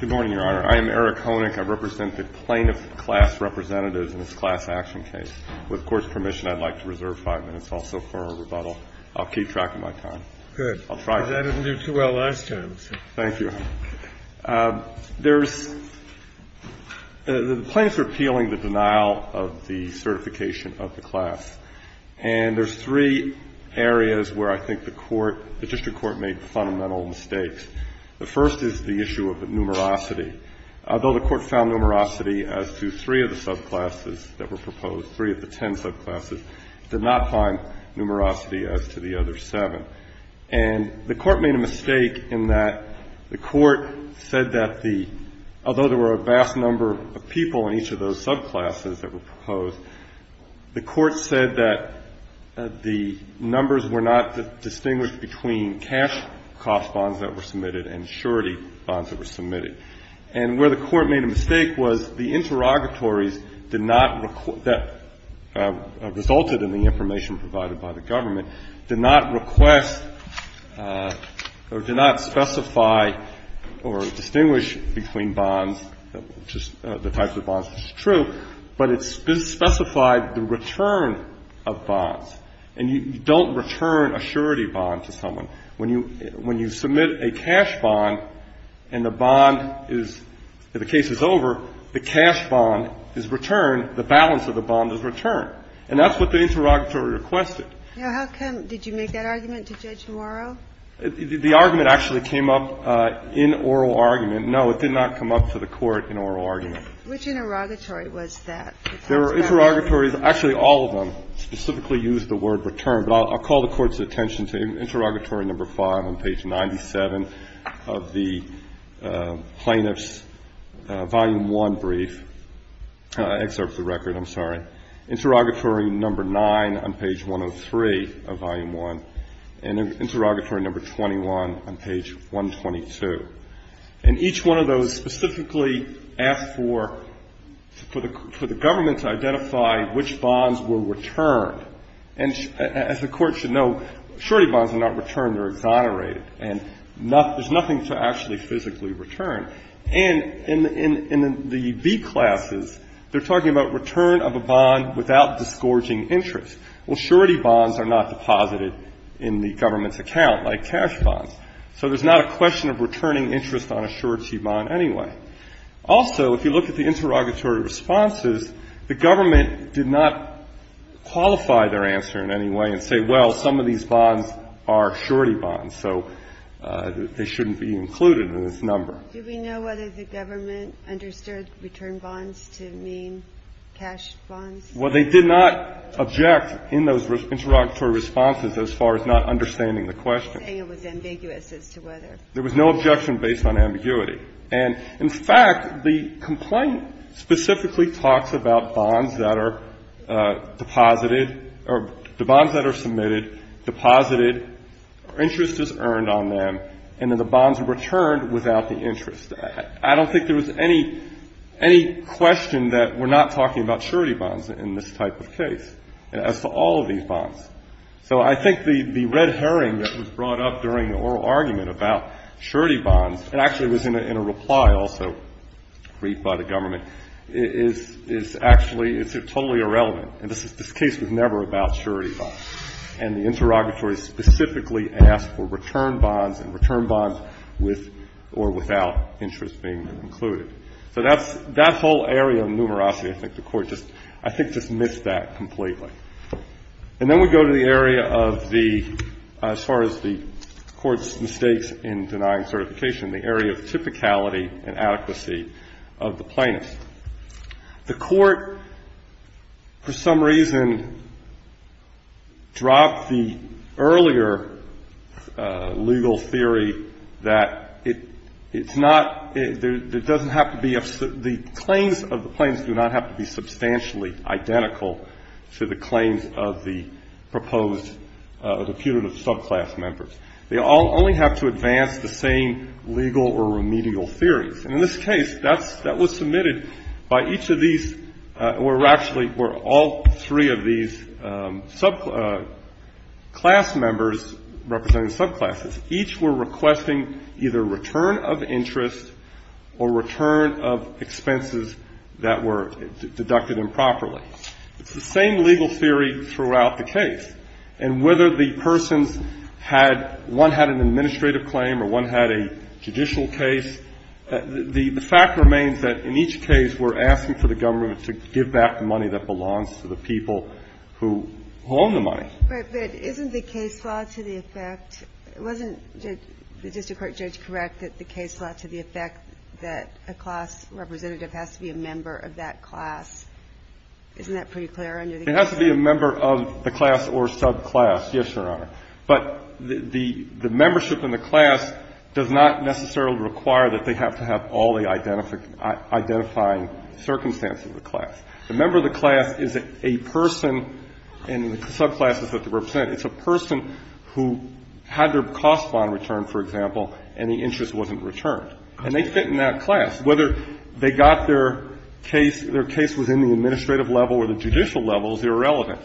Good morning, Your Honor. I am Eric Honick. I represent the plaintiff class representatives in this class action case. With the Court's permission, I'd like to reserve five minutes also for rebuttal. I'll keep track of my time. Good. Because I didn't do too well last time. Thank you. There's – the plaintiffs are appealing the denial of the certification of the class. And there's three areas where I think the court – the district court made fundamental mistakes. The first is the issue of the numerosity. Although the court found numerosity as to three of the subclasses that were proposed, three of the ten subclasses, it did not find numerosity as to the other seven. And the court made a mistake in that the court said that the – although there were a vast number of people in each of those subclasses that were proposed, the court said that the numbers were not distinguished between cash cost bonds that were submitted and surety bonds that were submitted. And where the court made a mistake was the interrogatories did not – that resulted in the information provided by the government did not request or did not specify or distinguish between bonds, which is – the types of bonds, which is true. But it specified the return of bonds. And you don't return a surety bond to someone. When you submit a cash bond and the bond is – if the case is over, the cash bond is returned, the balance of the bond is returned. And that's what the interrogatory requested. Now, how come – did you make that argument to Judge Morrow? The argument actually came up in oral argument. No, it did not come up to the Court in oral argument. Which interrogatory was that? There were interrogatories – actually, all of them specifically used the word return. But I'll call the Court's attention to Interrogatory No. 5 on page 97 of the Plaintiff's Volume I brief – excerpt of the record, I'm sorry. Interrogatory No. 9 on page 103 of Volume I, and Interrogatory No. 21 on page 122. And each one of those specifically asked for the government to identify which bonds were returned. And as the Court should know, surety bonds are not returned. They're exonerated. And there's nothing to actually physically return. And in the B classes, they're talking about return of a bond without disgorging interest. Well, surety bonds are not deposited in the government's account like cash bonds. So there's not a question of returning interest on a surety bond anyway. Also, if you look at the interrogatory responses, the government did not qualify their answer in any way and say, well, some of these bonds are surety bonds, so they shouldn't be included in this number. Do we know whether the government understood return bonds to mean cash bonds? Well, they did not object in those interrogatory responses as far as not understanding the question. I'm just saying it was ambiguous as to whether. There was no objection based on ambiguity. And, in fact, the complaint specifically talks about bonds that are deposited or the bonds that are submitted, deposited, interest is earned on them, and then the bonds returned without the interest. I don't think there was any question that we're not talking about surety bonds in this type of case as to all of these bonds. So I think the red herring that was brought up during the oral argument about surety bonds, and actually it was in a reply also read by the government, is actually totally irrelevant. And this case was never about surety bonds. And the interrogatory specifically asked for return bonds and return bonds with or without interest being included. So that whole area of numerosity, I think the Court just missed that completely. And then we go to the area of the, as far as the Court's mistakes in denying certification, the area of typicality and adequacy of the plaintiffs. The Court, for some reason, dropped the earlier legal theory that it's not, there doesn't have to be, the claims of the plaintiffs do not have to be substantially identical to the claims of the proposed, the punitive subclass members. They all only have to advance the same legal or remedial theories. And in this case, that was submitted by each of these, or actually were all three of these subclass members representing subclasses. Each were requesting either return of interest or return of expenses that were deducted It's the same legal theory throughout the case. And whether the persons had, one had an administrative claim or one had a judicial case, the fact remains that in each case, we're asking for the government to give back the money that belongs to the people who own the money. But isn't the case law to the effect, wasn't the district court judge correct that the case law to the effect that a class representative has to be a member of that class? Isn't that pretty clear under the case law? It has to be a member of the class or subclass, yes, Your Honor. But the membership in the class does not necessarily require that they have to have all the identifying circumstances of the class. The member of the class is a person in the subclasses that they represent. It's a person who had their cost bond returned, for example, and the interest wasn't returned. And they fit in that class. Whether they got their case, their case was in the administrative level or the judicial level is irrelevant.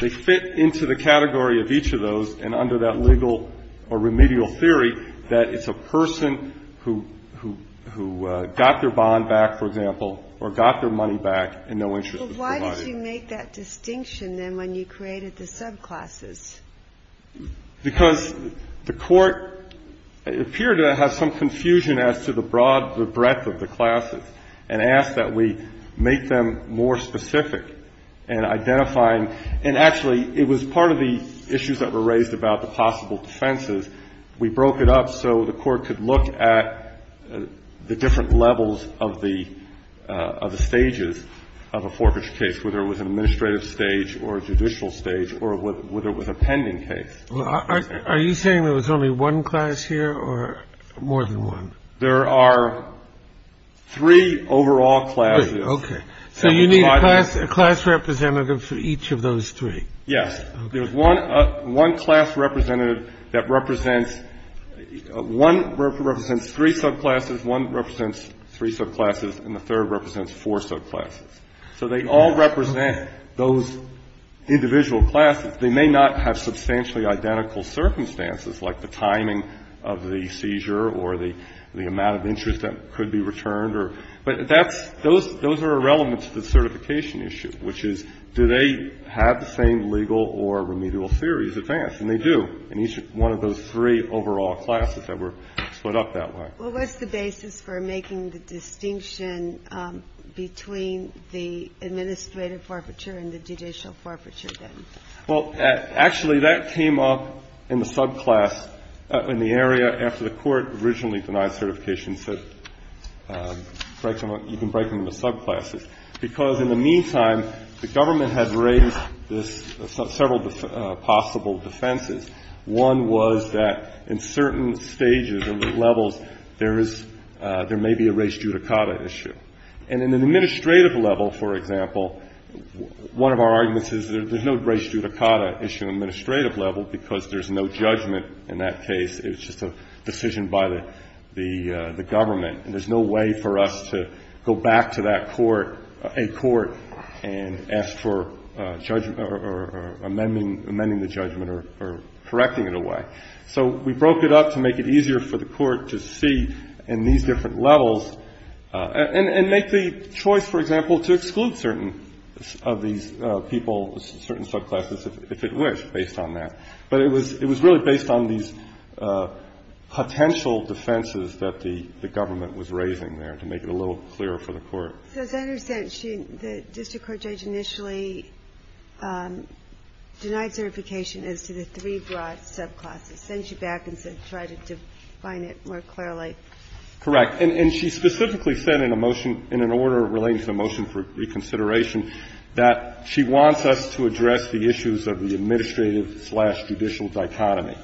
They fit into the category of each of those, and under that legal or remedial theory, that it's a person who, who, who got their bond back, for example, or got their money back and no interest was provided. But why did you make that distinction then when you created the subclasses? Because the Court appeared to have some confusion as to the broad, the breadth of the classes and asked that we make them more specific in identifying. And actually, it was part of the issues that were raised about the possible defenses. We broke it up so the Court could look at the different levels of the, of the stages of a forfeiture case, whether it was an administrative stage or a judicial stage or whether it was a pending case. Are you saying there was only one class here or more than one? There are three overall classes. Okay. So you need a class, a class representative for each of those three? Yes. There's one, one class representative that represents, one represents three subclasses, one represents three subclasses, and the third represents four subclasses. So they all represent those individual classes. They may not have substantially identical circumstances like the timing of the seizure or the, the amount of interest that could be returned or, but that's, those, those are irrelevant to the certification issue, which is do they have the same legal or remedial theories advanced? And they do in each one of those three overall classes that were split up that way. What was the basis for making the distinction between the administrative forfeiture and the judicial forfeiture then? Well, actually, that came up in the subclass, in the area after the Court originally denied certifications that break them up, you can break them into subclasses, because in the meantime, the government has raised this, several possible defenses. One was that in certain stages and levels, there is, there may be a res judicata issue. And in an administrative level, for example, one of our arguments is there's no res judicata issue in an administrative level because there's no judgment in that case. It was just a decision by the, the government. And there's no way for us to go back to that court, a court, and ask for judgment or amending, amending the judgment or correcting it away. So we broke it up to make it easier for the Court to see in these different levels and, and make the choice, for example, to exclude certain of these people, certain subclasses, if, if it were based on that. But it was, it was really based on these potential defenses that the, the government was raising there to make it a little clearer for the Court. So as I understand, she, the district court judge initially denied certification as to the three broad subclasses. Then she back and said, try to define it more clearly. Correct. And, and she specifically said in a motion, in an order relating to the motion for reconsideration, that she wants us to address the issues of the administrative slash judicial dichotomy.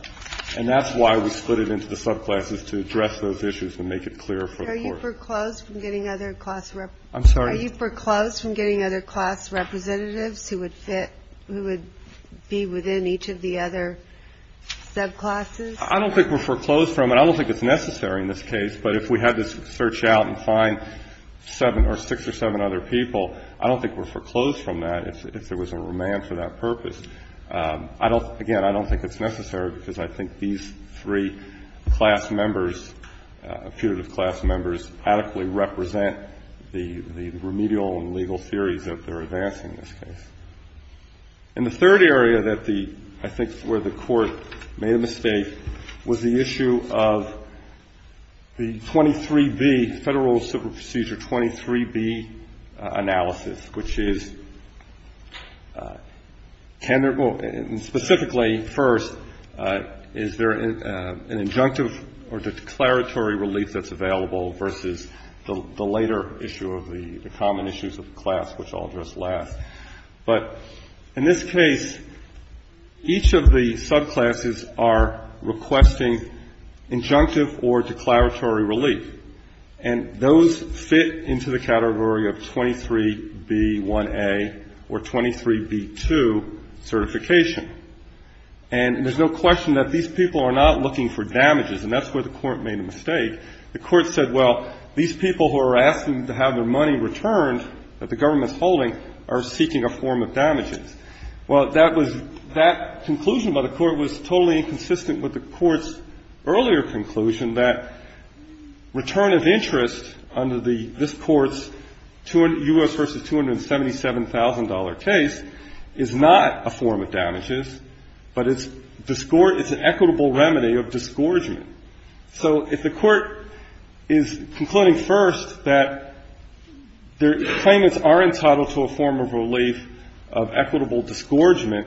And that's why we split it into the subclasses, to address those issues and make it clear for the Court. Are you foreclosed from getting other class representatives? I'm sorry? Are you foreclosed from getting other class representatives who would fit, who would be within each of the other subclasses? I don't think we're foreclosed from it. I don't think it's necessary in this case. But if we had to search out and find seven or six or seven other people, I don't think we're foreclosed from that if, if there was a remand for that purpose. I don't, again, I don't think it's necessary because I think these three class members, putative class members adequately represent the, the remedial and legal theories that they're advancing in this case. And the third area that the, I think where the Court made a mistake was the issue of the 23B, Federal Civil Procedure 23B analysis, which is, can there be, and specifically, first, is there an injunctive or declaratory relief that's available versus the later issue of the, the common issues of the class, which I'll address last. But in this case, each of the subclasses are requesting injunctive or declaratory relief. And those fit into the category of 23B1A or 23B2 certification. And there's no question that these people are not looking for damages. And that's where the Court made a mistake. The Court said, well, these people who are asking to have their money returned that the government's holding are seeking a form of damages. Well, that was, that conclusion by the Court was totally inconsistent with the Court's earlier conclusion that return of interest under the, this Court's U.S. v. $277,000 case is not a form of damages, but it's discord, it's an equitable remedy of disgorgement. So if the Court is concluding first that their claimants are entitled to a form of relief of equitable disgorgement,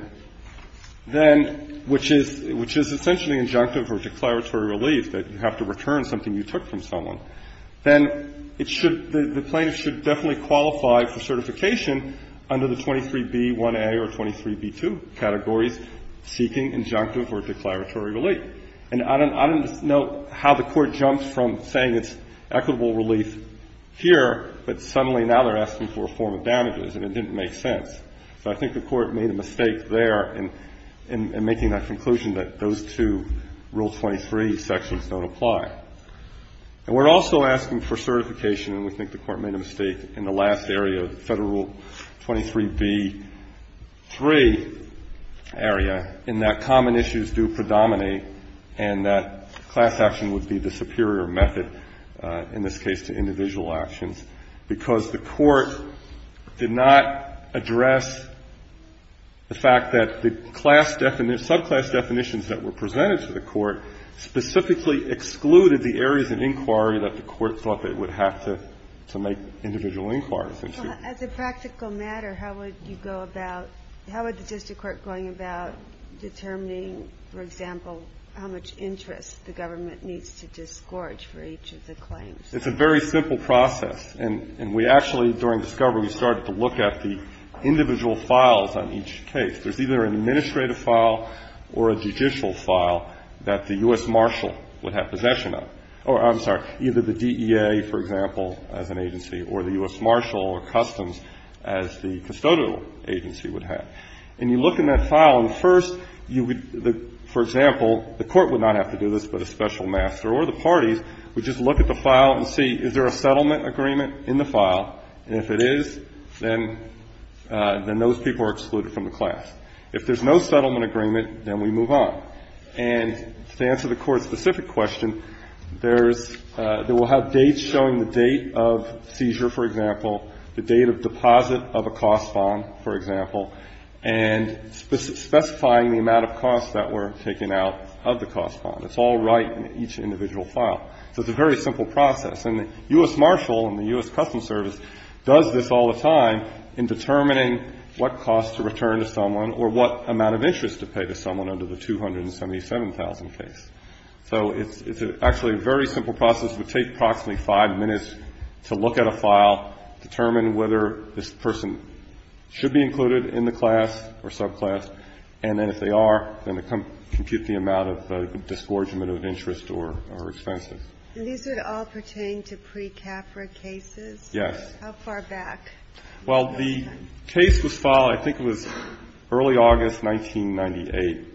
then, which is, which is essentially injunctive or declaratory relief, that you have to return something you took from someone, then it should, the plaintiff should definitely qualify for certification under the 23B1A or 23B2 categories seeking injunctive or declaratory relief. And I don't, I don't know how the Court jumps from saying it's equitable relief here, but suddenly now they're asking for a form of damages and it didn't make sense. So I think the Court made a mistake there in, in making that conclusion that those two Rule 23 sections don't apply. And we're also asking for certification, and we think the Court made a mistake in the last area, Federal Rule 23B3 area, in that common issues do predominate and that class action would be the superior method in this case to individual actions, because the Court did not address the fact that the class definition, subclass definitions that were presented to the Court specifically excluded the areas of inquiry that the Court thought they would have to, to make individual inquiries into. As a practical matter, how would you go about, how would the district court going about determining, for example, how much interest the government needs to disgorge for each of the claims? It's a very simple process. And, and we actually, during discovery, we started to look at the individual files on each case. There's either an administrative file or a judicial file that the U.S. Marshal would have possession of, or, I'm sorry, either the DEA, for example, as an agency, or the U.S. Marshal or Customs as the custodial agency would have. And you look in that file, and first, you would, for example, the Court would not have to do this, but a special master or the parties would just look at the file and see, is there a settlement agreement in the file? And if it is, then, then those people are excluded from the class. If there's no settlement agreement, then we move on. And to answer the Court's specific question, there's, there will have dates showing the date of seizure, for example, the date of deposit of a cost bond, for example, and specifying the amount of costs that were taken out of the cost bond. It's all right in each individual file. So it's a very simple process. And the U.S. Marshal and the U.S. Customs Service does this all the time in determining what costs to return to someone or what amount of interest to pay to someone under the 277,000 case. So it's actually a very simple process. It would take approximately five minutes to look at a file, determine whether this person should be included in the class or subclass, and then if they are, then compute the amount of disgorgement of interest or expenses. And these would all pertain to pre-CAFRA cases? Yes. How far back? Well, the case was filed, I think it was early August 1998.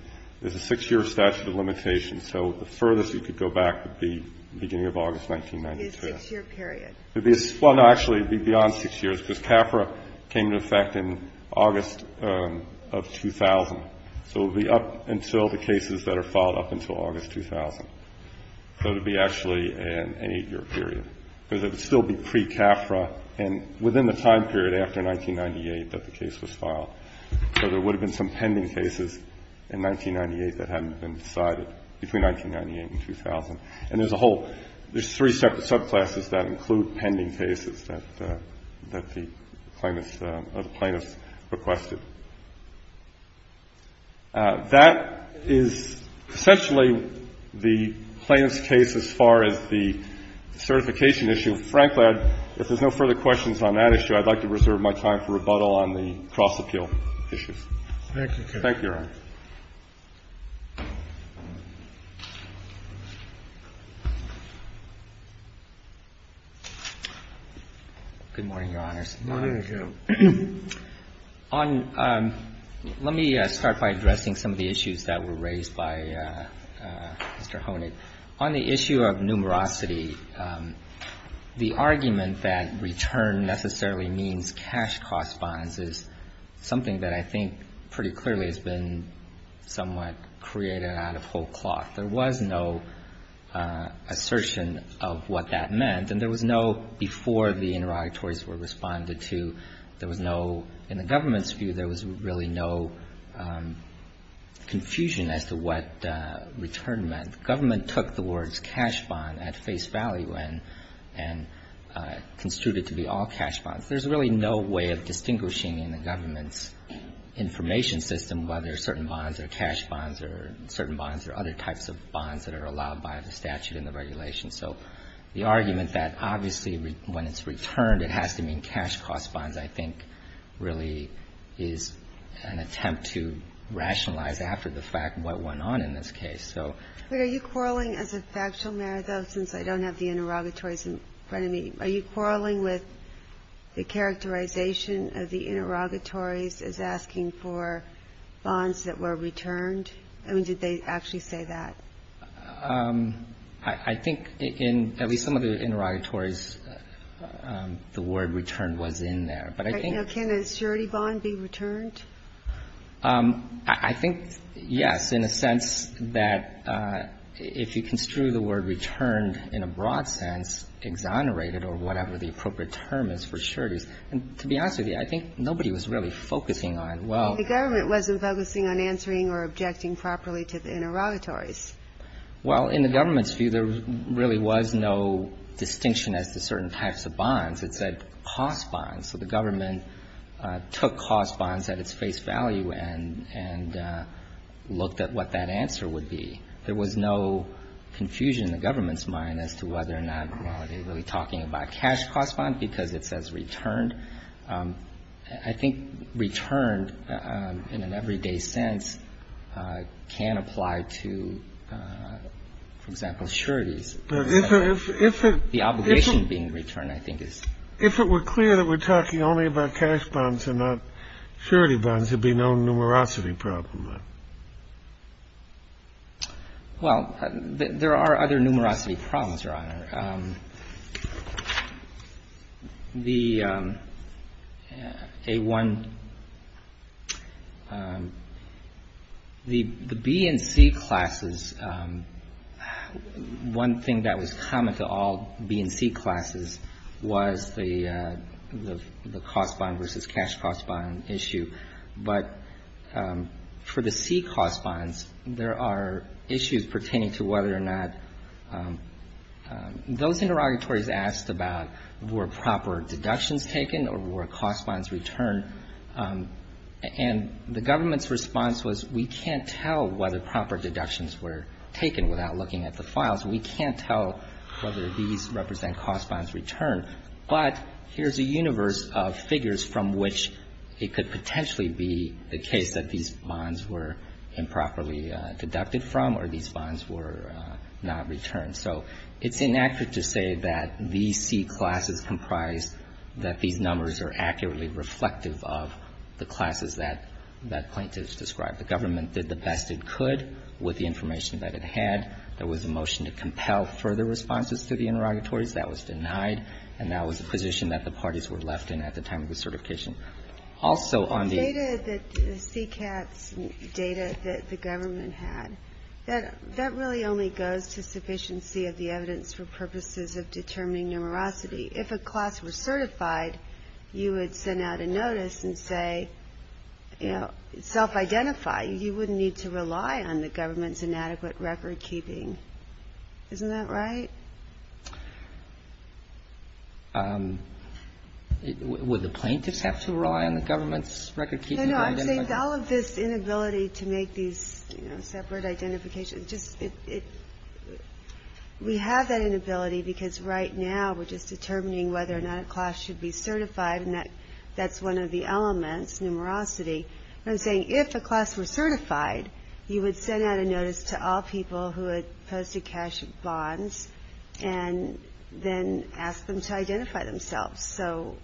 There's a 6-year statute of limitations. So the furthest you could go back would be the beginning of August 1992. It would be a 6-year period. Well, no, actually, it would be beyond 6 years, because CAFRA came into effect in August of 2000. So it would be up until the cases that are filed up until August 2000. So it would be actually an 8-year period, because it would still be pre-CAFRA. And within the time period after 1998 that the case was filed. So there would have been some pending cases in 1998 that hadn't been decided between 1998 and 2000. And there's a whole – there's three separate subclasses that include pending cases that the plaintiffs requested. That is essentially the plaintiff's case as far as the certification issue. And frankly, I'd – if there's no further questions on that issue, I'd like to reserve my time for rebuttal on the cross-appeal issues. Thank you, Counsel. Thank you, Your Honor. Good morning, Your Honors. Good morning to you. On – let me start by addressing some of the issues that were raised by Mr. Honig. On the issue of numerosity, the argument that return necessarily means cash-cost bonds is something that I think pretty clearly has been somewhat created out of whole cloth. There was no assertion of what that meant, and there was no – before the interrogatories were responded to, there was no – in the government's view, there was really no confusion as to what return meant. The government took the words cash bond at face value and construed it to be all cash bonds. There's really no way of distinguishing in the government's information system whether certain bonds are cash bonds or certain bonds are other types of bonds that are allowed by the statute and the regulations. So the argument that obviously when it's returned, it has to mean cash-cost bonds I think really is an attempt to rationalize after the fact what went on in this case. So – But are you quarreling as a factual matter, though, since I don't have the interrogatories in front of me, are you quarreling with the characterization of the interrogatories as asking for bonds that were returned? I mean, did they actually say that? I think in at least some of the interrogatories, the word return was in there. But I think – Can a surety bond be returned? I think, yes, in a sense that if you construe the word returned in a broad sense, exonerated or whatever the appropriate term is for sureties. And to be honest with you, I think nobody was really focusing on, well – The government wasn't focusing on answering or objecting properly to the interrogatories. Well, in the government's view, there really was no distinction as to certain types of bonds. It said cost bonds. So the government took cost bonds at its face value and looked at what that answer would be. There was no confusion in the government's mind as to whether or not they were really talking about cash cost bonds because it says returned. I think returned in an everyday sense can apply to, for example, sureties. But if it – The obligation being returned, I think, is – If it were clear that we're talking only about cash bonds and not surety bonds, there'd be no numerosity problem then. Well, there are other numerosity problems, Your Honor. The B and C classes, one thing that was common to all B and C classes was the cost bond versus cash cost bond issue. But for the C cost bonds, there are issues pertaining to whether or not cash is returned or not. Those interrogatories asked about were proper deductions taken or were cost bonds returned. And the government's response was we can't tell whether proper deductions were taken without looking at the files. We can't tell whether these represent cost bonds returned. But here's a universe of figures from which it could potentially be the case that these bonds were improperly deducted from or these bonds were not returned. So it's inaccurate to say that these C classes comprise that these numbers are accurately reflective of the classes that plaintiffs described. The government did the best it could with the information that it had. There was a motion to compel further responses to the interrogatories. That was denied. And that was a position that the parties were left in at the time of the certification. Also on the – That really only goes to sufficiency of the evidence for purposes of determining numerosity. If a class were certified, you would send out a notice and say, you know, self-identify. You wouldn't need to rely on the government's inadequate record-keeping. Isn't that right? Would the plaintiffs have to rely on the government's record-keeping? No, no, I'm saying all of this inability to make these, you know, separate identifications, just it – we have that inability because right now we're just determining whether or not a class should be certified, and that's one of the elements, numerosity. But I'm saying if a class were certified, you would send out a notice to all people who had posted cash bonds and then ask them to identify themselves. So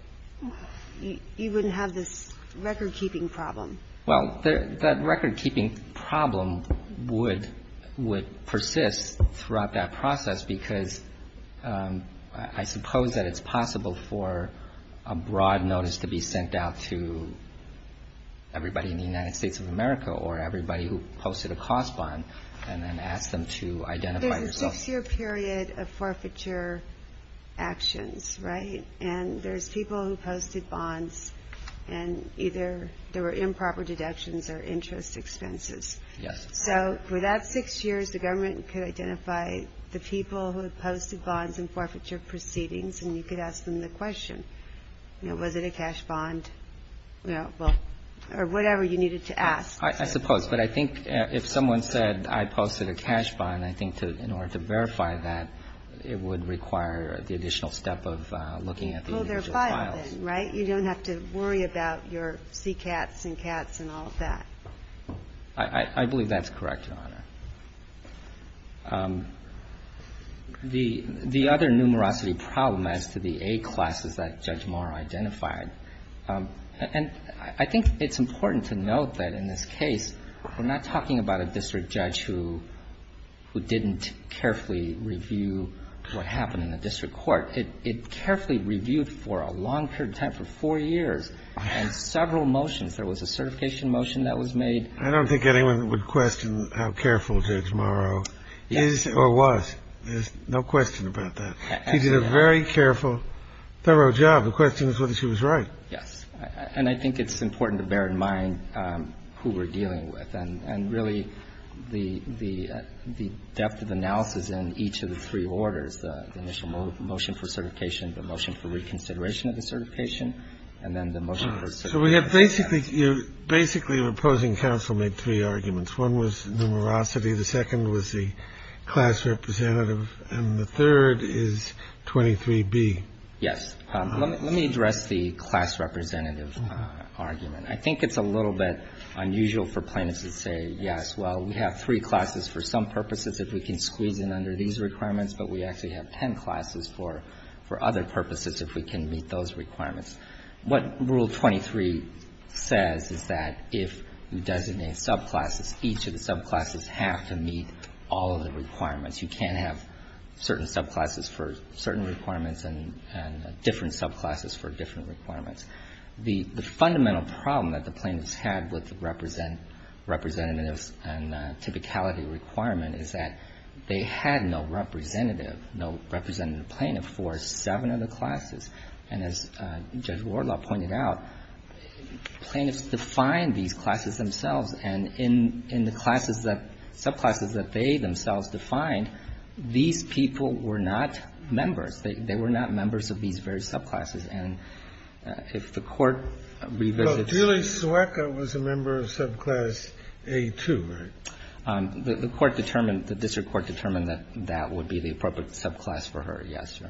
you wouldn't have this record-keeping problem. Well, that record-keeping problem would persist throughout that process because I suppose that it's possible for a broad notice to be sent out to everybody in the United States of America or everybody who posted a cost bond and then ask them to identify themselves. There's a six-year period of forfeiture actions, right? And there's people who posted bonds and either there were improper deductions or interest expenses. Yes. So for that six years, the government could identify the people who had posted bonds and forfeiture proceedings, and you could ask them the question, you know, was it a cash bond, you know, or whatever you needed to ask. I suppose. But I think if someone said I posted a cash bond, I think in order to verify that, it would require the additional step of looking at the individual files. Oh, there are five then, right? You don't have to worry about your CCATs and CATs and all of that. I believe that's correct, Your Honor. The other numerosity problem as to the A classes that Judge Moore identified, and I think it's important to note that in this case we're not talking about a district judge who didn't carefully review what happened in the district court. It carefully reviewed for a long period of time, for four years, and several motions. There was a certification motion that was made. I don't think anyone would question how careful Judge Morrow is or was. There's no question about that. She did a very careful, thorough job. The question is whether she was right. Yes. And I think it's important to bear in mind who we're dealing with. And really the depth of analysis in each of the three orders, the initial motion for certification, the motion for reconsideration of the certification, and then the motion for certification. So we have basically an opposing counsel made three arguments. One was numerosity. The second was the class representative. And the third is 23B. Yes. Let me address the class representative argument. I think it's a little bit unusual for plaintiffs to say, yes, well, we have three classes for some purposes if we can squeeze in under these requirements, but we actually have ten classes for other purposes if we can meet those requirements. What Rule 23 says is that if you designate subclasses, each of the subclasses have to meet all of the requirements. You can't have certain subclasses for certain requirements and different subclasses for different requirements. The fundamental problem that the plaintiffs had with representatives and typicality requirement is that they had no representative, no representative plaintiff for seven of the classes. And as Judge Wardlaw pointed out, plaintiffs defined these classes themselves. And in the classes that, subclasses that they themselves defined, these people were not members. They were not members of these various subclasses. And if the Court revisits them. Kennedy. But Julie Suwaka was a member of subclass A2, right? The Court determined, the district court determined that that would be the appropriate subclass for her. Yes, Your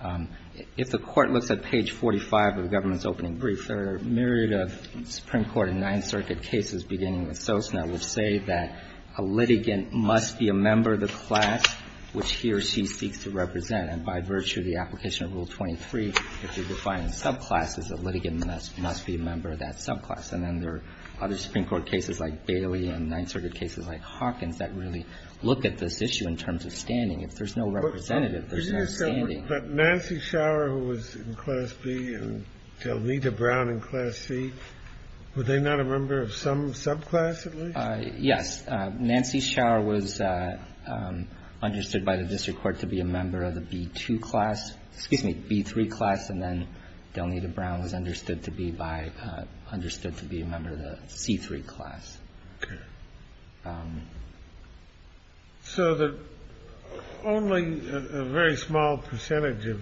Honor. If the Court looks at page 45 of the government's opening brief, there are a myriad of Supreme Court and Ninth Circuit cases beginning with Sosna which say that a litigant must be a member of the class which he or she seeks to represent. And by virtue of the application of Rule 23, if you define subclasses, a litigant must be a member of that subclass. And then there are other Supreme Court cases like Bailey and Ninth Circuit cases like Hawkins that really look at this issue in terms of standing. If there's no representative, there's no standing. But Nancy Schauer, who was in class B, and Delita Brown in class C, were they not a member of some subclass at least? Yes. Nancy Schauer was understood by the district court to be a member of the B2 class excuse me, B3 class, and then Delita Brown was understood to be by understood to be a member of the C3 class. Okay. So that only a very small percentage of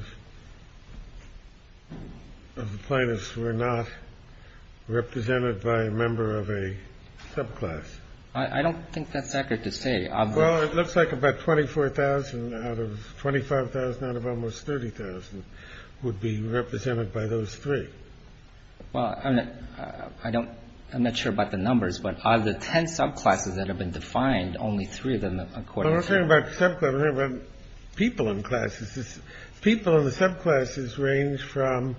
the plaintiffs were not represented by a member of a subclass. I don't think that's accurate to say. Well, it looks like about 24,000 out of 25,000 out of almost 30,000 would be represented by those three. Well, I don't I'm not sure about the numbers. But of the 10 subclasses that have been defined, only three of them accordingly. I'm not talking about the subclass. I'm talking about people in classes. People in the subclasses range from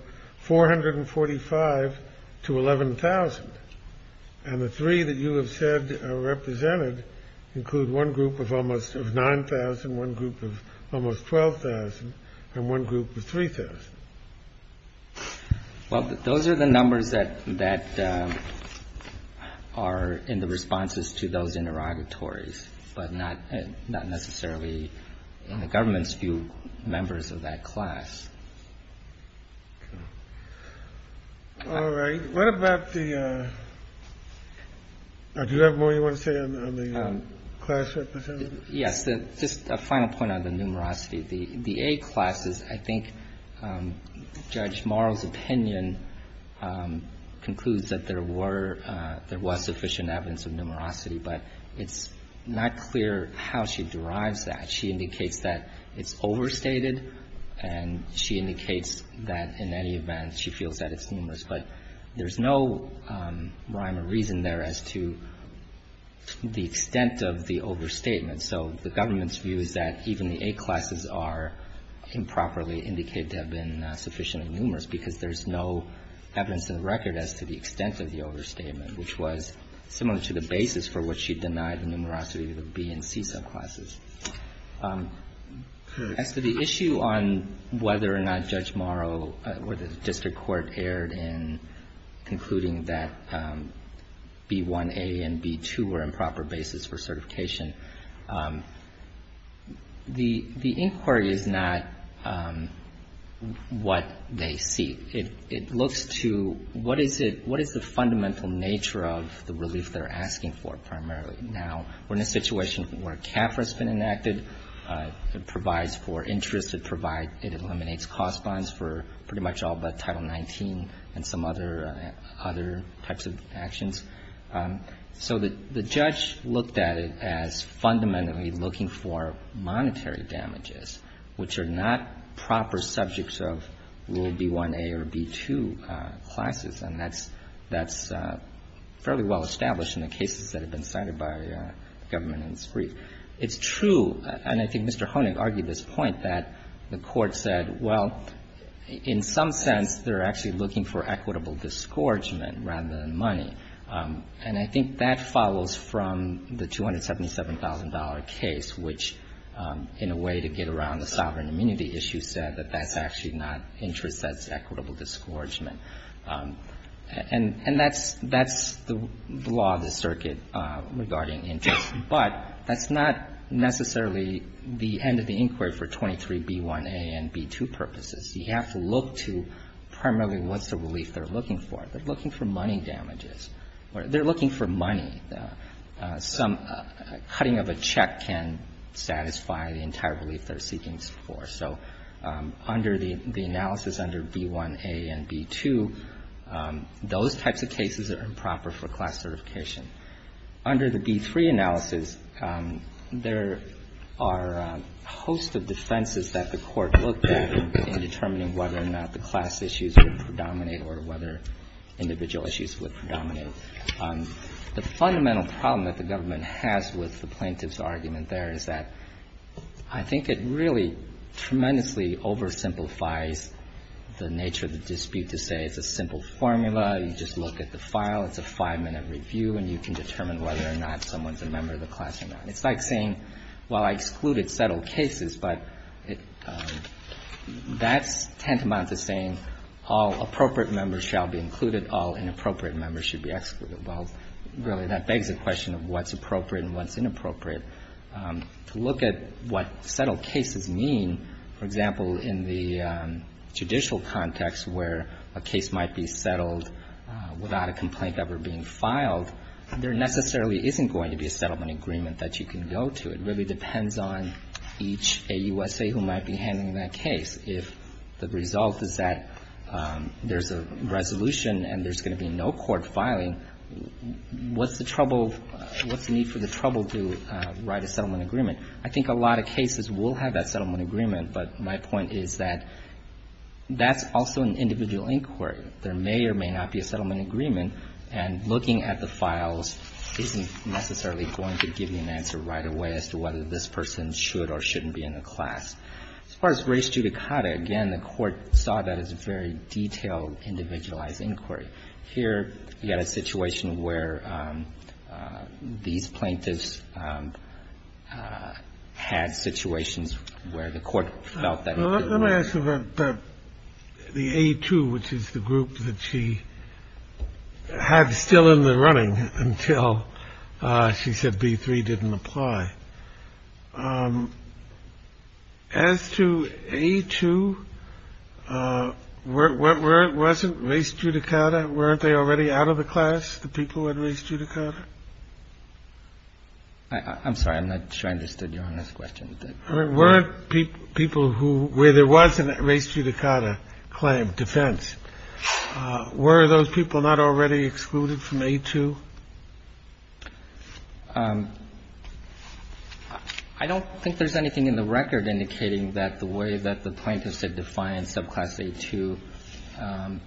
445 to 11,000. And the three that you have said are represented include one group of almost 9,000, one group of almost 12,000, and one group of 3,000. Well, those are the numbers that are in the responses to those interrogatories, but not necessarily in the government's view members of that class. Okay. All right. What about the do you have more you want to say on the class representative? Yes. Just a final point on the numerosity. The A class is I think Judge Morrow's opinion concludes that there were there was sufficient evidence of not clear how she derives that. She indicates that it's overstated, and she indicates that in any event she feels that it's numerous. But there's no rhyme or reason there as to the extent of the overstatement. So the government's view is that even the A classes are improperly indicated to have been sufficiently numerous because there's no evidence in the record as to the extent of the overstatement, which was similar to the basis for which she denied the numerosity of the B and C subclasses. As to the issue on whether or not Judge Morrow or the district court erred in concluding that B1A and B2 were improper basis for certification, the inquiry is not what they see. It looks to what is the fundamental nature of the relief they're asking for primarily. Now, we're in a situation where CAFRA has been enacted. It provides for interest. It eliminates cost bonds for pretty much all but Title XIX and some other types of actions. So the judge looked at it as fundamentally looking for monetary damages, which are not proper subjects of Rule B1A or B2 classes. And that's fairly well established in the cases that have been cited by the government in this brief. It's true, and I think Mr. Honig argued this point, that the Court said, well, in some sense they're actually looking for equitable disgorgement rather than money. And I think that follows from the $277,000 case, which in a way to get around the sovereign immunity issue said that that's actually not interest, that's equitable disgorgement. And that's the law of the circuit regarding interest. But that's not necessarily the end of the inquiry for 23B1A and B2 purposes. You have to look to primarily what's the relief they're looking for. They're looking for money damages. They're looking for money. Some cutting of a check can satisfy the entire relief they're seeking for. So under the analysis under B1A and B2, those types of cases are improper for class certification. Under the B3 analysis, there are a host of defenses that the Court looked at in determining whether or not the class issues would predominate or whether individual issues would predominate. The fundamental problem that the government has with the plaintiff's argument there is that I think it really tremendously oversimplifies the nature of the dispute to say it's a simple formula, you just look at the file, it's a five-minute review, and you can determine whether or not someone's a member of the class or not. It's like saying, well, I excluded settled cases, but that's tantamount to saying all appropriate members shall be included, all inappropriate members should be excluded. Well, really that begs the question of what's appropriate and what's inappropriate. To look at what settled cases mean, for example, in the judicial context where a case might be settled without a complaint ever being filed, there necessarily isn't going to be a settlement agreement that you can go to. It really depends on each AUSA who might be handling that case. If the result is that there's a resolution and there's going to be no court filing, what's the trouble, what's the need for the trouble to write a settlement agreement? I think a lot of cases will have that settlement agreement, but my point is that that's also an individual inquiry. There may or may not be a settlement agreement, and looking at the files isn't necessarily going to give you an answer right away as to whether this person should or shouldn't be in the class. As far as race judicata, again, the Court saw that as a very detailed, individualized inquiry. Here, you had a situation where these plaintiffs had situations where the Court felt that it didn't work. Let me ask about the A2, which is the group that she had still in the running until she said B3 didn't apply. As to A2, wasn't race judicata, weren't they already out of the class, the people who had race judicata? I'm sorry. I'm not sure I understood your last question. Were there people who, where there was a race judicata claim, defense, were those people not already excluded from A2? I don't think there's anything in the record indicating that the way that the plaintiffs had defined subclass A2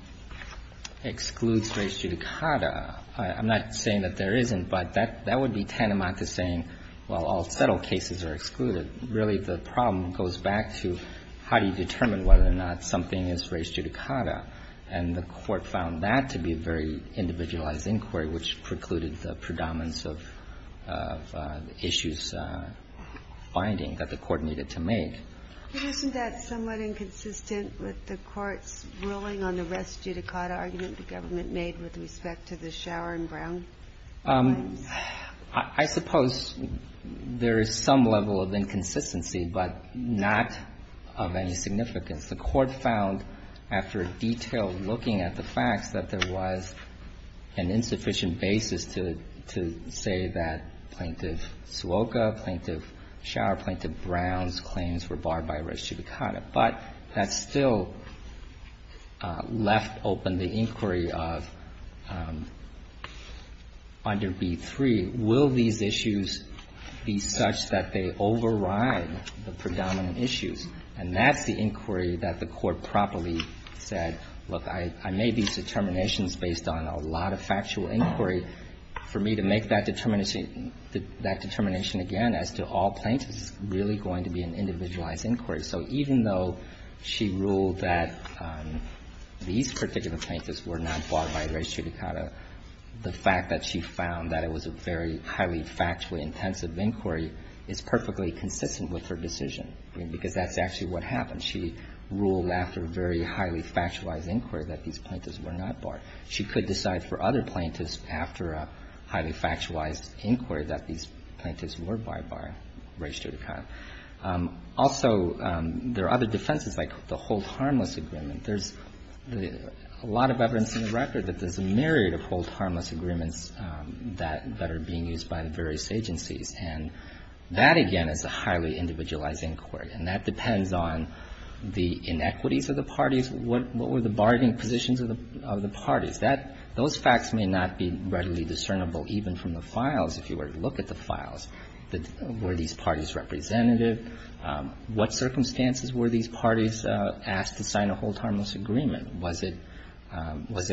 excludes race judicata. I'm not saying that there isn't, but that would be tantamount to saying, well, all the federal cases are excluded. Really, the problem goes back to how do you determine whether or not something is race judicata. And the Court found that to be a very individualized inquiry, which precluded the predominance of issues finding that the Court needed to make. But isn't that somewhat inconsistent with the Court's ruling on the race judicata argument the government made with respect to the Shower and Brown claims? I suppose there is some level of inconsistency, but not of any significance. The Court found, after detailed looking at the facts, that there was an insufficient basis to say that Plaintiff Suoka, Plaintiff Shower, Plaintiff Brown's claims were barred by race judicata. But that still left open the inquiry of under B3, will these issues be such that they override the predominant issues? And that's the inquiry that the Court properly said, look, I made these determinations based on a lot of factual inquiry. For me to make that determination again as to all plaintiffs is really going to be an individualized inquiry. So even though she ruled that these particular plaintiffs were not barred by race judicata, the fact that she found that it was a very highly factually intensive inquiry is perfectly consistent with her decision, because that's actually what happened. She ruled after a very highly factualized inquiry that these plaintiffs were not barred. She could decide for other plaintiffs after a highly factualized inquiry that these plaintiffs were barred by race judicata. Also, there are other defenses like the hold harmless agreement. There's a lot of evidence in the record that there's a myriad of hold harmless agreements that are being used by the various agencies. And that, again, is a highly individualized inquiry. And that depends on the inequities of the parties. What were the bargaining positions of the parties? Those facts may not be readily discernible even from the files, if you were to look at the files. Were these parties representative? What circumstances were these parties asked to sign a hold harmless agreement? Was it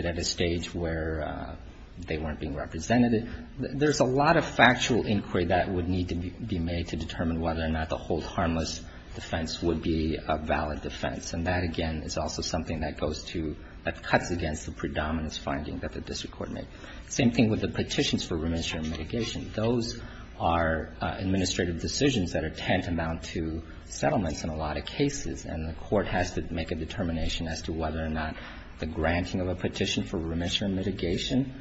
at a stage where they weren't being represented? There's a lot of factual inquiry that would need to be made to determine whether or not the hold harmless defense would be a valid defense. And that, again, is also something that goes to the cuts against the predominance finding that the district court made. Same thing with the petitions for remission and mitigation. Those are administrative decisions that are tantamount to settlements in a lot of cases. And the court has to make a determination as to whether or not the granting of a petition for remission and mitigation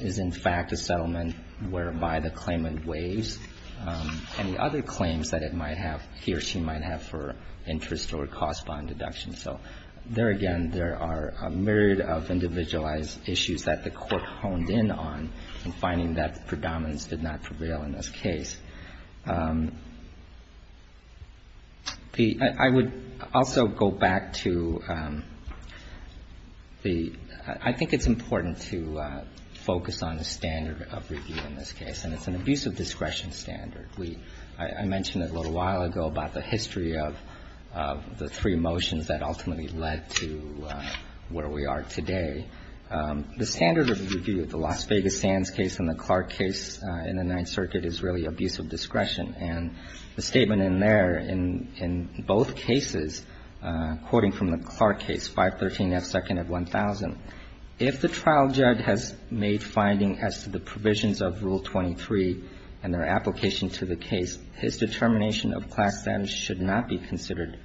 is, in fact, a settlement whereby the claimant waives any other claims that it might have, he or she might have for interest or cost bond deduction. So there, again, there are a myriad of individualized issues that the court honed in on in finding that predominance did not prevail in this case. I would also go back to the – I think it's important to focus on the standard of review in this case, and it's an abuse of discretion standard. We – I mentioned it a little while ago about the history of the three motions that ultimately led to where we are today. The standard of review of the Las Vegas Sands case and the Clark case in the Ninth Circuit is really abuse of discretion. And the statement in there, in both cases, quoting from the Clark case, 513 F. Second at 1000, if the trial judge has made findings as to the provisions of Rule 23 and their application to the case, his determination of Clark's standards should not be considered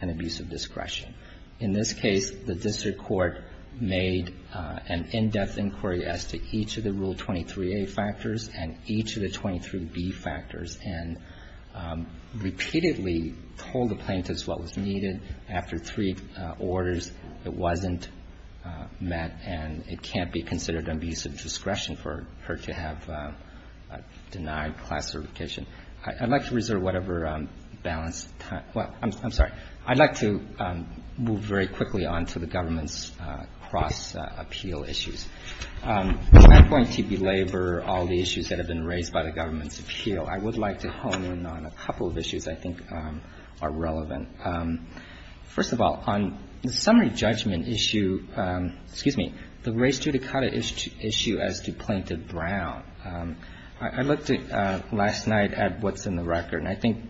an abuse of discretion. In this case, the district court made an in-depth inquiry as to each of the Rule 23a factors and each of the 23b factors, and repeatedly told the plaintiffs what was needed. After three orders, it wasn't met, and it can't be considered an abuse of discretion for her to have denied class certification. I'd like to reserve whatever balanced time – well, I'm sorry. I'd like to move very quickly on to the government's cross-appeal issues. I'm not going to belabor all the issues that have been raised by the government's appeal. I would like to hone in on a couple of issues I think are relevant. First of all, on the summary judgment issue – excuse me – the race judicata issue as to Plaintiff Brown, I looked last night at what's in the record, and I think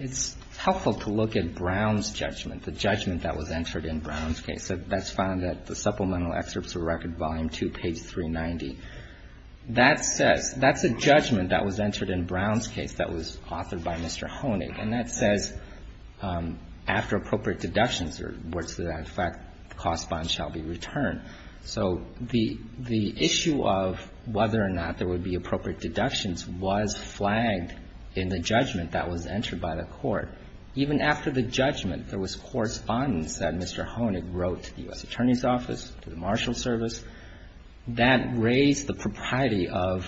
it's helpful to look at Brown's judgment, the judgment that was entered in Brown's case. That's found at the Supplemental Excerpts of Record, Volume 2, page 390. That says – that's a judgment that was entered in Brown's case that was authored by Mr. Honig, and that says, after appropriate deductions, or words to that effect, the cost bonds shall be returned. So the issue of whether or not there would be appropriate deductions was flagged in the judgment that was entered by the court. Even after the judgment, there was correspondence that Mr. Honig wrote to the U.S. Attorney's Office, to the Marshal Service. That raised the propriety of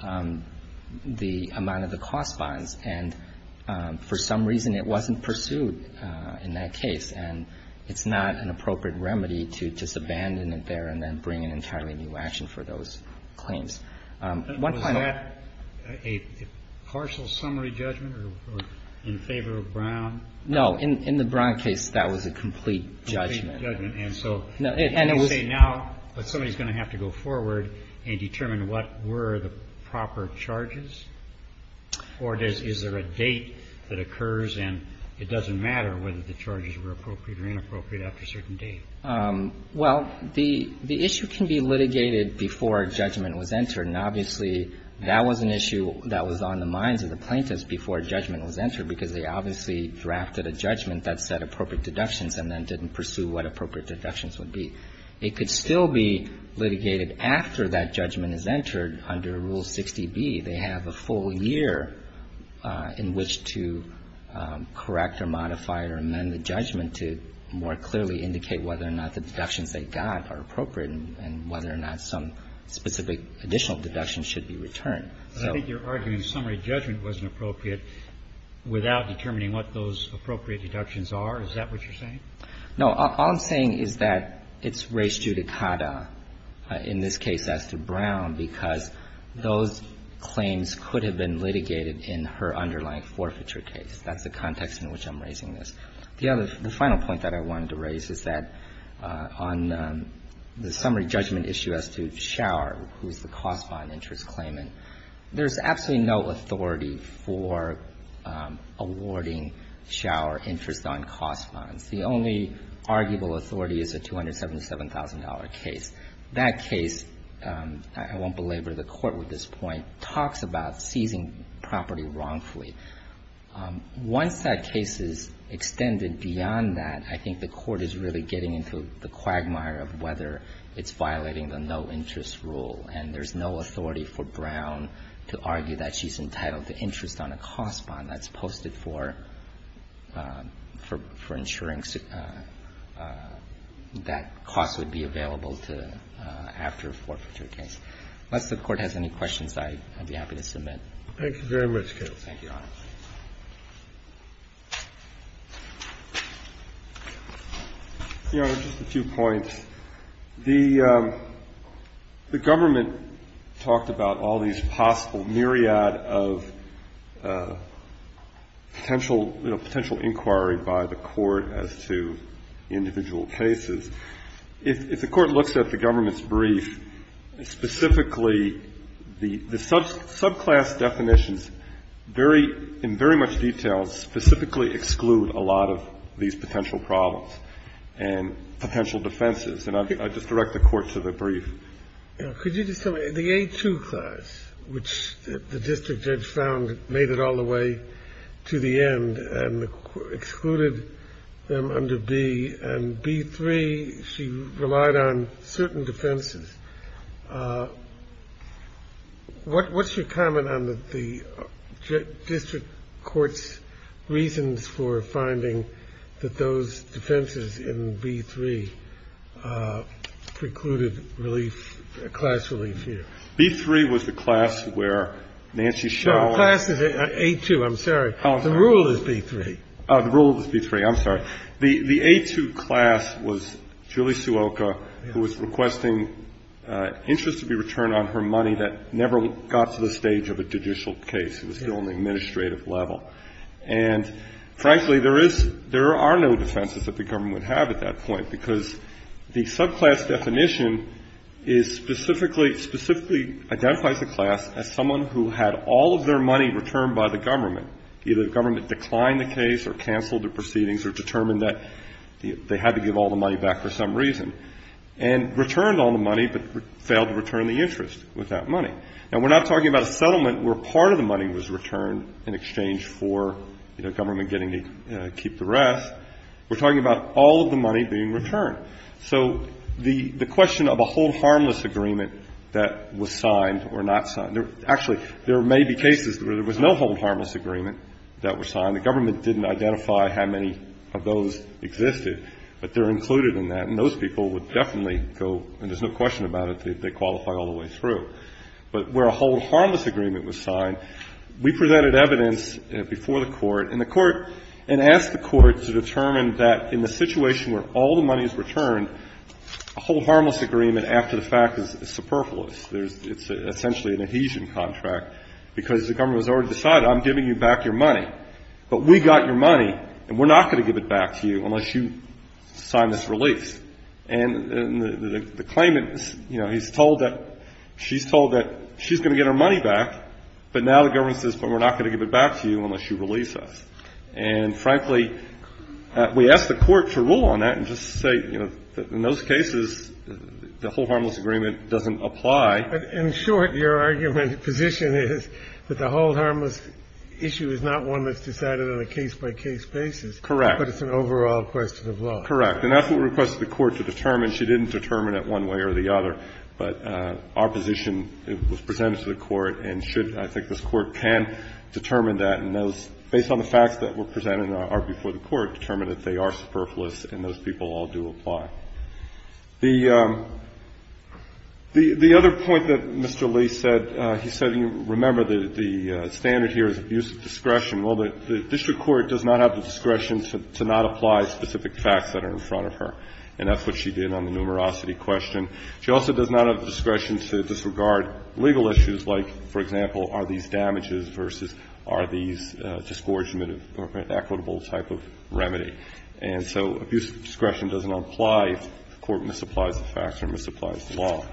the amount of the cost bonds, and for some reason, it wasn't pursued in that case. And it's not an appropriate remedy to just abandon it there and then bring an entirely new action for those claims. One point – Was that a partial summary judgment or in favor of Brown? No. In the Brown case, that was a complete judgment. And so you say now that somebody's going to have to go forward and determine what were the proper charges, or is there a date that occurs and it doesn't matter whether the charges were appropriate or inappropriate after a certain date? Well, the issue can be litigated before a judgment was entered, and obviously, that was an issue that was on the minds of the plaintiffs before a judgment was entered, because they obviously drafted a judgment that said appropriate deductions and then didn't pursue what appropriate deductions would be. It could still be litigated after that judgment is entered under Rule 60B. They have a full year in which to correct or modify or amend the judgment to more clearly indicate whether or not the deductions they got are appropriate and whether or not some specific additional deduction should be returned. So I think you're arguing a summary judgment wasn't appropriate without determining what those appropriate deductions are. Is that what you're saying? No. All I'm saying is that it's raised judicata in this case as to Brown, because those claims could have been litigated in her underlying forfeiture case. That's the context in which I'm raising this. The other – the final point that I wanted to raise is that on the summary judgment issue as to Schauer, who's the cost bond interest claimant, there's absolutely no authority for awarding Schauer interest on cost bonds. The only arguable authority is a $277,000 case. That case, I won't belabor the Court with this point, talks about seizing property wrongfully. Once that case is extended beyond that, I think the Court is really getting into the quagmire of whether it's violating the no-interest rule, and there's no authority for Brown to argue that she's entitled to interest on a cost bond that's posted for – for ensuring that cost would be available to – after a forfeiture case. Unless the Court has any questions, I'd be happy to submit. Thank you very much, Counsel. Thank you, Your Honor. Your Honor, just a few points. The Government talked about all these possible myriad of potential – you know, potential inquiry by the Court as to individual cases. If the Court looks at the Government's brief, specifically, the subclass definitions very – in very much detail specifically exclude a lot of these potential problems and potential defenses. And I just direct the Court to the brief. Could you just tell me, the A2 class, which the district judge found made it all the way to the end and excluded them under B, and B3, she relied on certain defenses. What's your comment on the district court's reasons for finding that those defenses in B3 precluded relief, class relief here? B3 was the class where Nancy Schauer – No, the class is A2. I'm sorry. The rule is B3. The rule is B3. I'm sorry. The A2 class was Julie Suoka, who was requesting interest to be returned on her money that never got to the stage of a judicial case. It was still on the administrative level. And, frankly, there is – there are no defenses that the Government would have at that point because the subclass definition is specifically – specifically identifies a class as someone who had all of their money returned by the Government, either the Government declined the case or canceled the proceedings or determined that they had to give all the money back for some reason, and returned all the money but failed to return the interest with that money. Now, we're not talking about a settlement where part of the money was returned in exchange for, you know, Government getting to keep the rest. We're talking about all of the money being returned. So the question of a hold harmless agreement that was signed or not signed – actually, there may be cases where there was no hold harmless agreement that was signed. The Government didn't identify how many of those existed, but they're included in that. And those people would definitely go – and there's no question about it – they qualify all the way through. But where a hold harmless agreement was signed, we presented evidence before the Court and the Court – and asked the Court to determine that in the situation where all the money is returned, a hold harmless agreement after the fact is superfluous. There's – it's essentially an adhesion contract because the Government has already decided I'm giving you back your money. But we got your money and we're not going to give it back to you unless you sign this release. And the claimant, you know, he's told that – she's told that she's going to get her money back, but now the Government says, but we're not going to give it back to you unless you release us. And, frankly, we asked the Court to rule on that and just say, you know, in those cases, the hold harmless agreement doesn't apply. In short, your argument – position is that the hold harmless issue is not one that's decided on a case-by-case basis. Correct. But it's an overall question of law. Correct. And that's what we requested the Court to determine. She didn't determine it one way or the other. But our position, it was presented to the Court, and should – I think this Court can determine that. And those – based on the facts that were presented before the Court, determined that they are superfluous and those people all do apply. The other point that Mr. Lee said, he said, you remember the standard here is abuse of discretion. Well, the district court does not have the discretion to not apply specific facts that are in front of her, and that's what she did on the numerosity question. She also does not have the discretion to disregard legal issues like, for example, are these damages versus are these disgorgement of equitable type of remedy. And so abuse of discretion doesn't apply if the Court misapplies the facts or misapplies the law.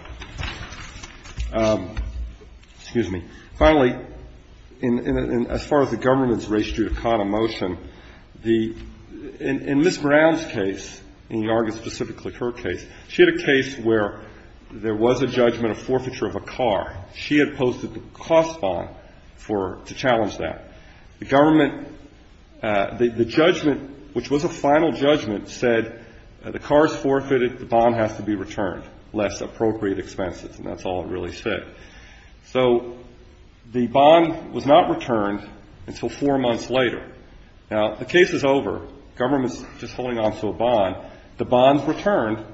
Excuse me. Finally, as far as the government's ratio to con emotion, the – in Ms. Brown's case, and you argue specifically her case, she had a case where there was a judgment of forfeiture of a car. She had posted the cost bond for – to challenge that. The government – the judgment, which was a final judgment, said the car is forfeited, the bond has to be returned, less appropriate expenses. And that's all it really said. So the bond was not returned until four months later. Now, the case is over. Government's just holding on to a bond. The bond's returned,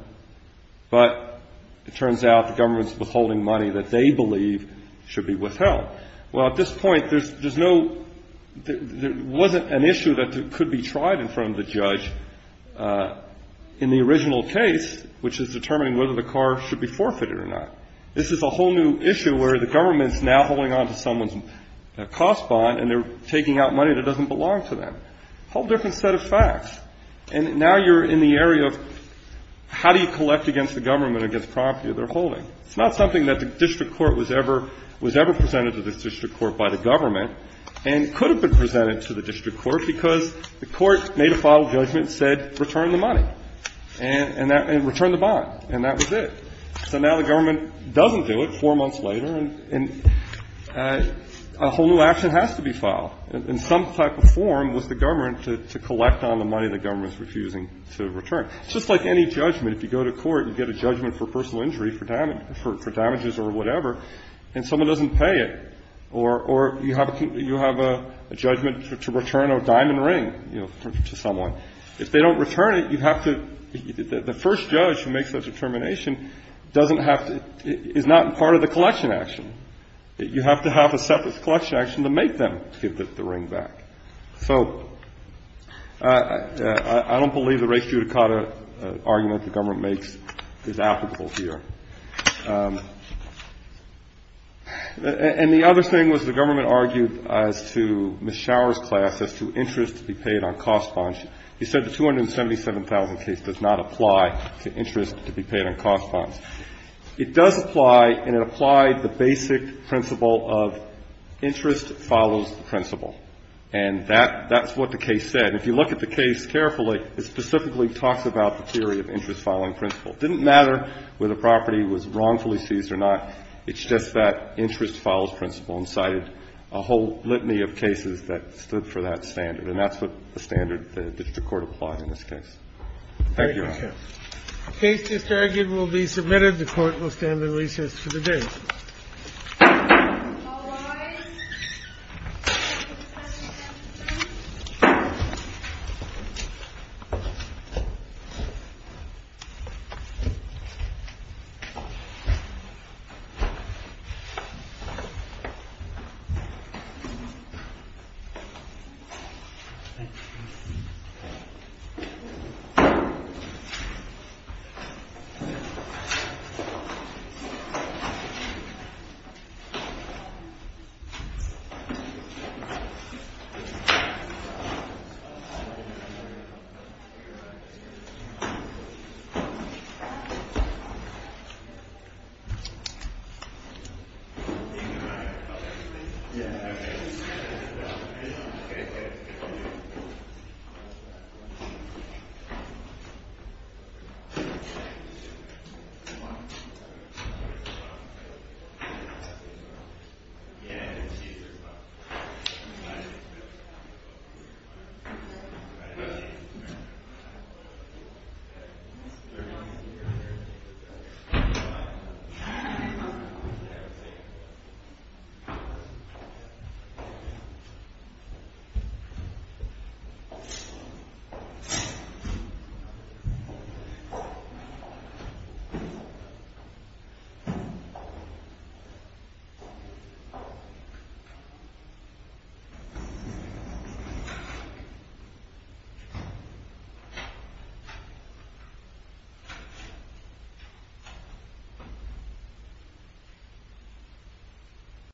but it turns out the government's withholding money that they believe should be withheld. Well, at this point, there's no – there wasn't an issue that could be tried in front of the judge. In the original case, which is determining whether the car should be forfeited or not, this is a whole new issue where the government's now holding on to someone's cost bond and they're taking out money that doesn't belong to them. A whole different set of facts. And now you're in the area of how do you collect against the government against the property they're holding. It's not something that the district court was ever – was ever presented to the district court by the government and could have been presented to the district court because the court made a final judgment and said, return the money and return the bond. And that was it. So now the government doesn't do it four months later and a whole new action has to be filed. In some type of form was the government to collect on the money the government's refusing to return. It's just like any judgment. If you go to court, you get a judgment for personal injury, for damages or whatever, and someone doesn't pay it or you have a judgment to return a diamond ring to someone. If they don't return it, you have to – the first judge who makes that determination doesn't have to – is not part of the collection action. You have to have a separate collection action to make them give the ring back. So I don't believe the race judicata argument the government makes is applicable here. And the other thing was the government argued as to Ms. Shower's class as to interest to be paid on cost bonds. She said the $277,000 case does not apply to interest to be paid on cost bonds. It does apply, and it applied the basic principle of interest follows the principle. And that's what the case said. If you look at the case carefully, it specifically talks about the theory of interest following principle. It didn't matter whether the property was wrongfully seized or not. It's just that interest follows principle and cited a whole litany of cases that stood for that standard. And that's what the standard the district court applied in this case. Thank you, Your Honor. The case just argued will be submitted. The Court will stand at recess for the day. Thank you. Thank you. Thank you.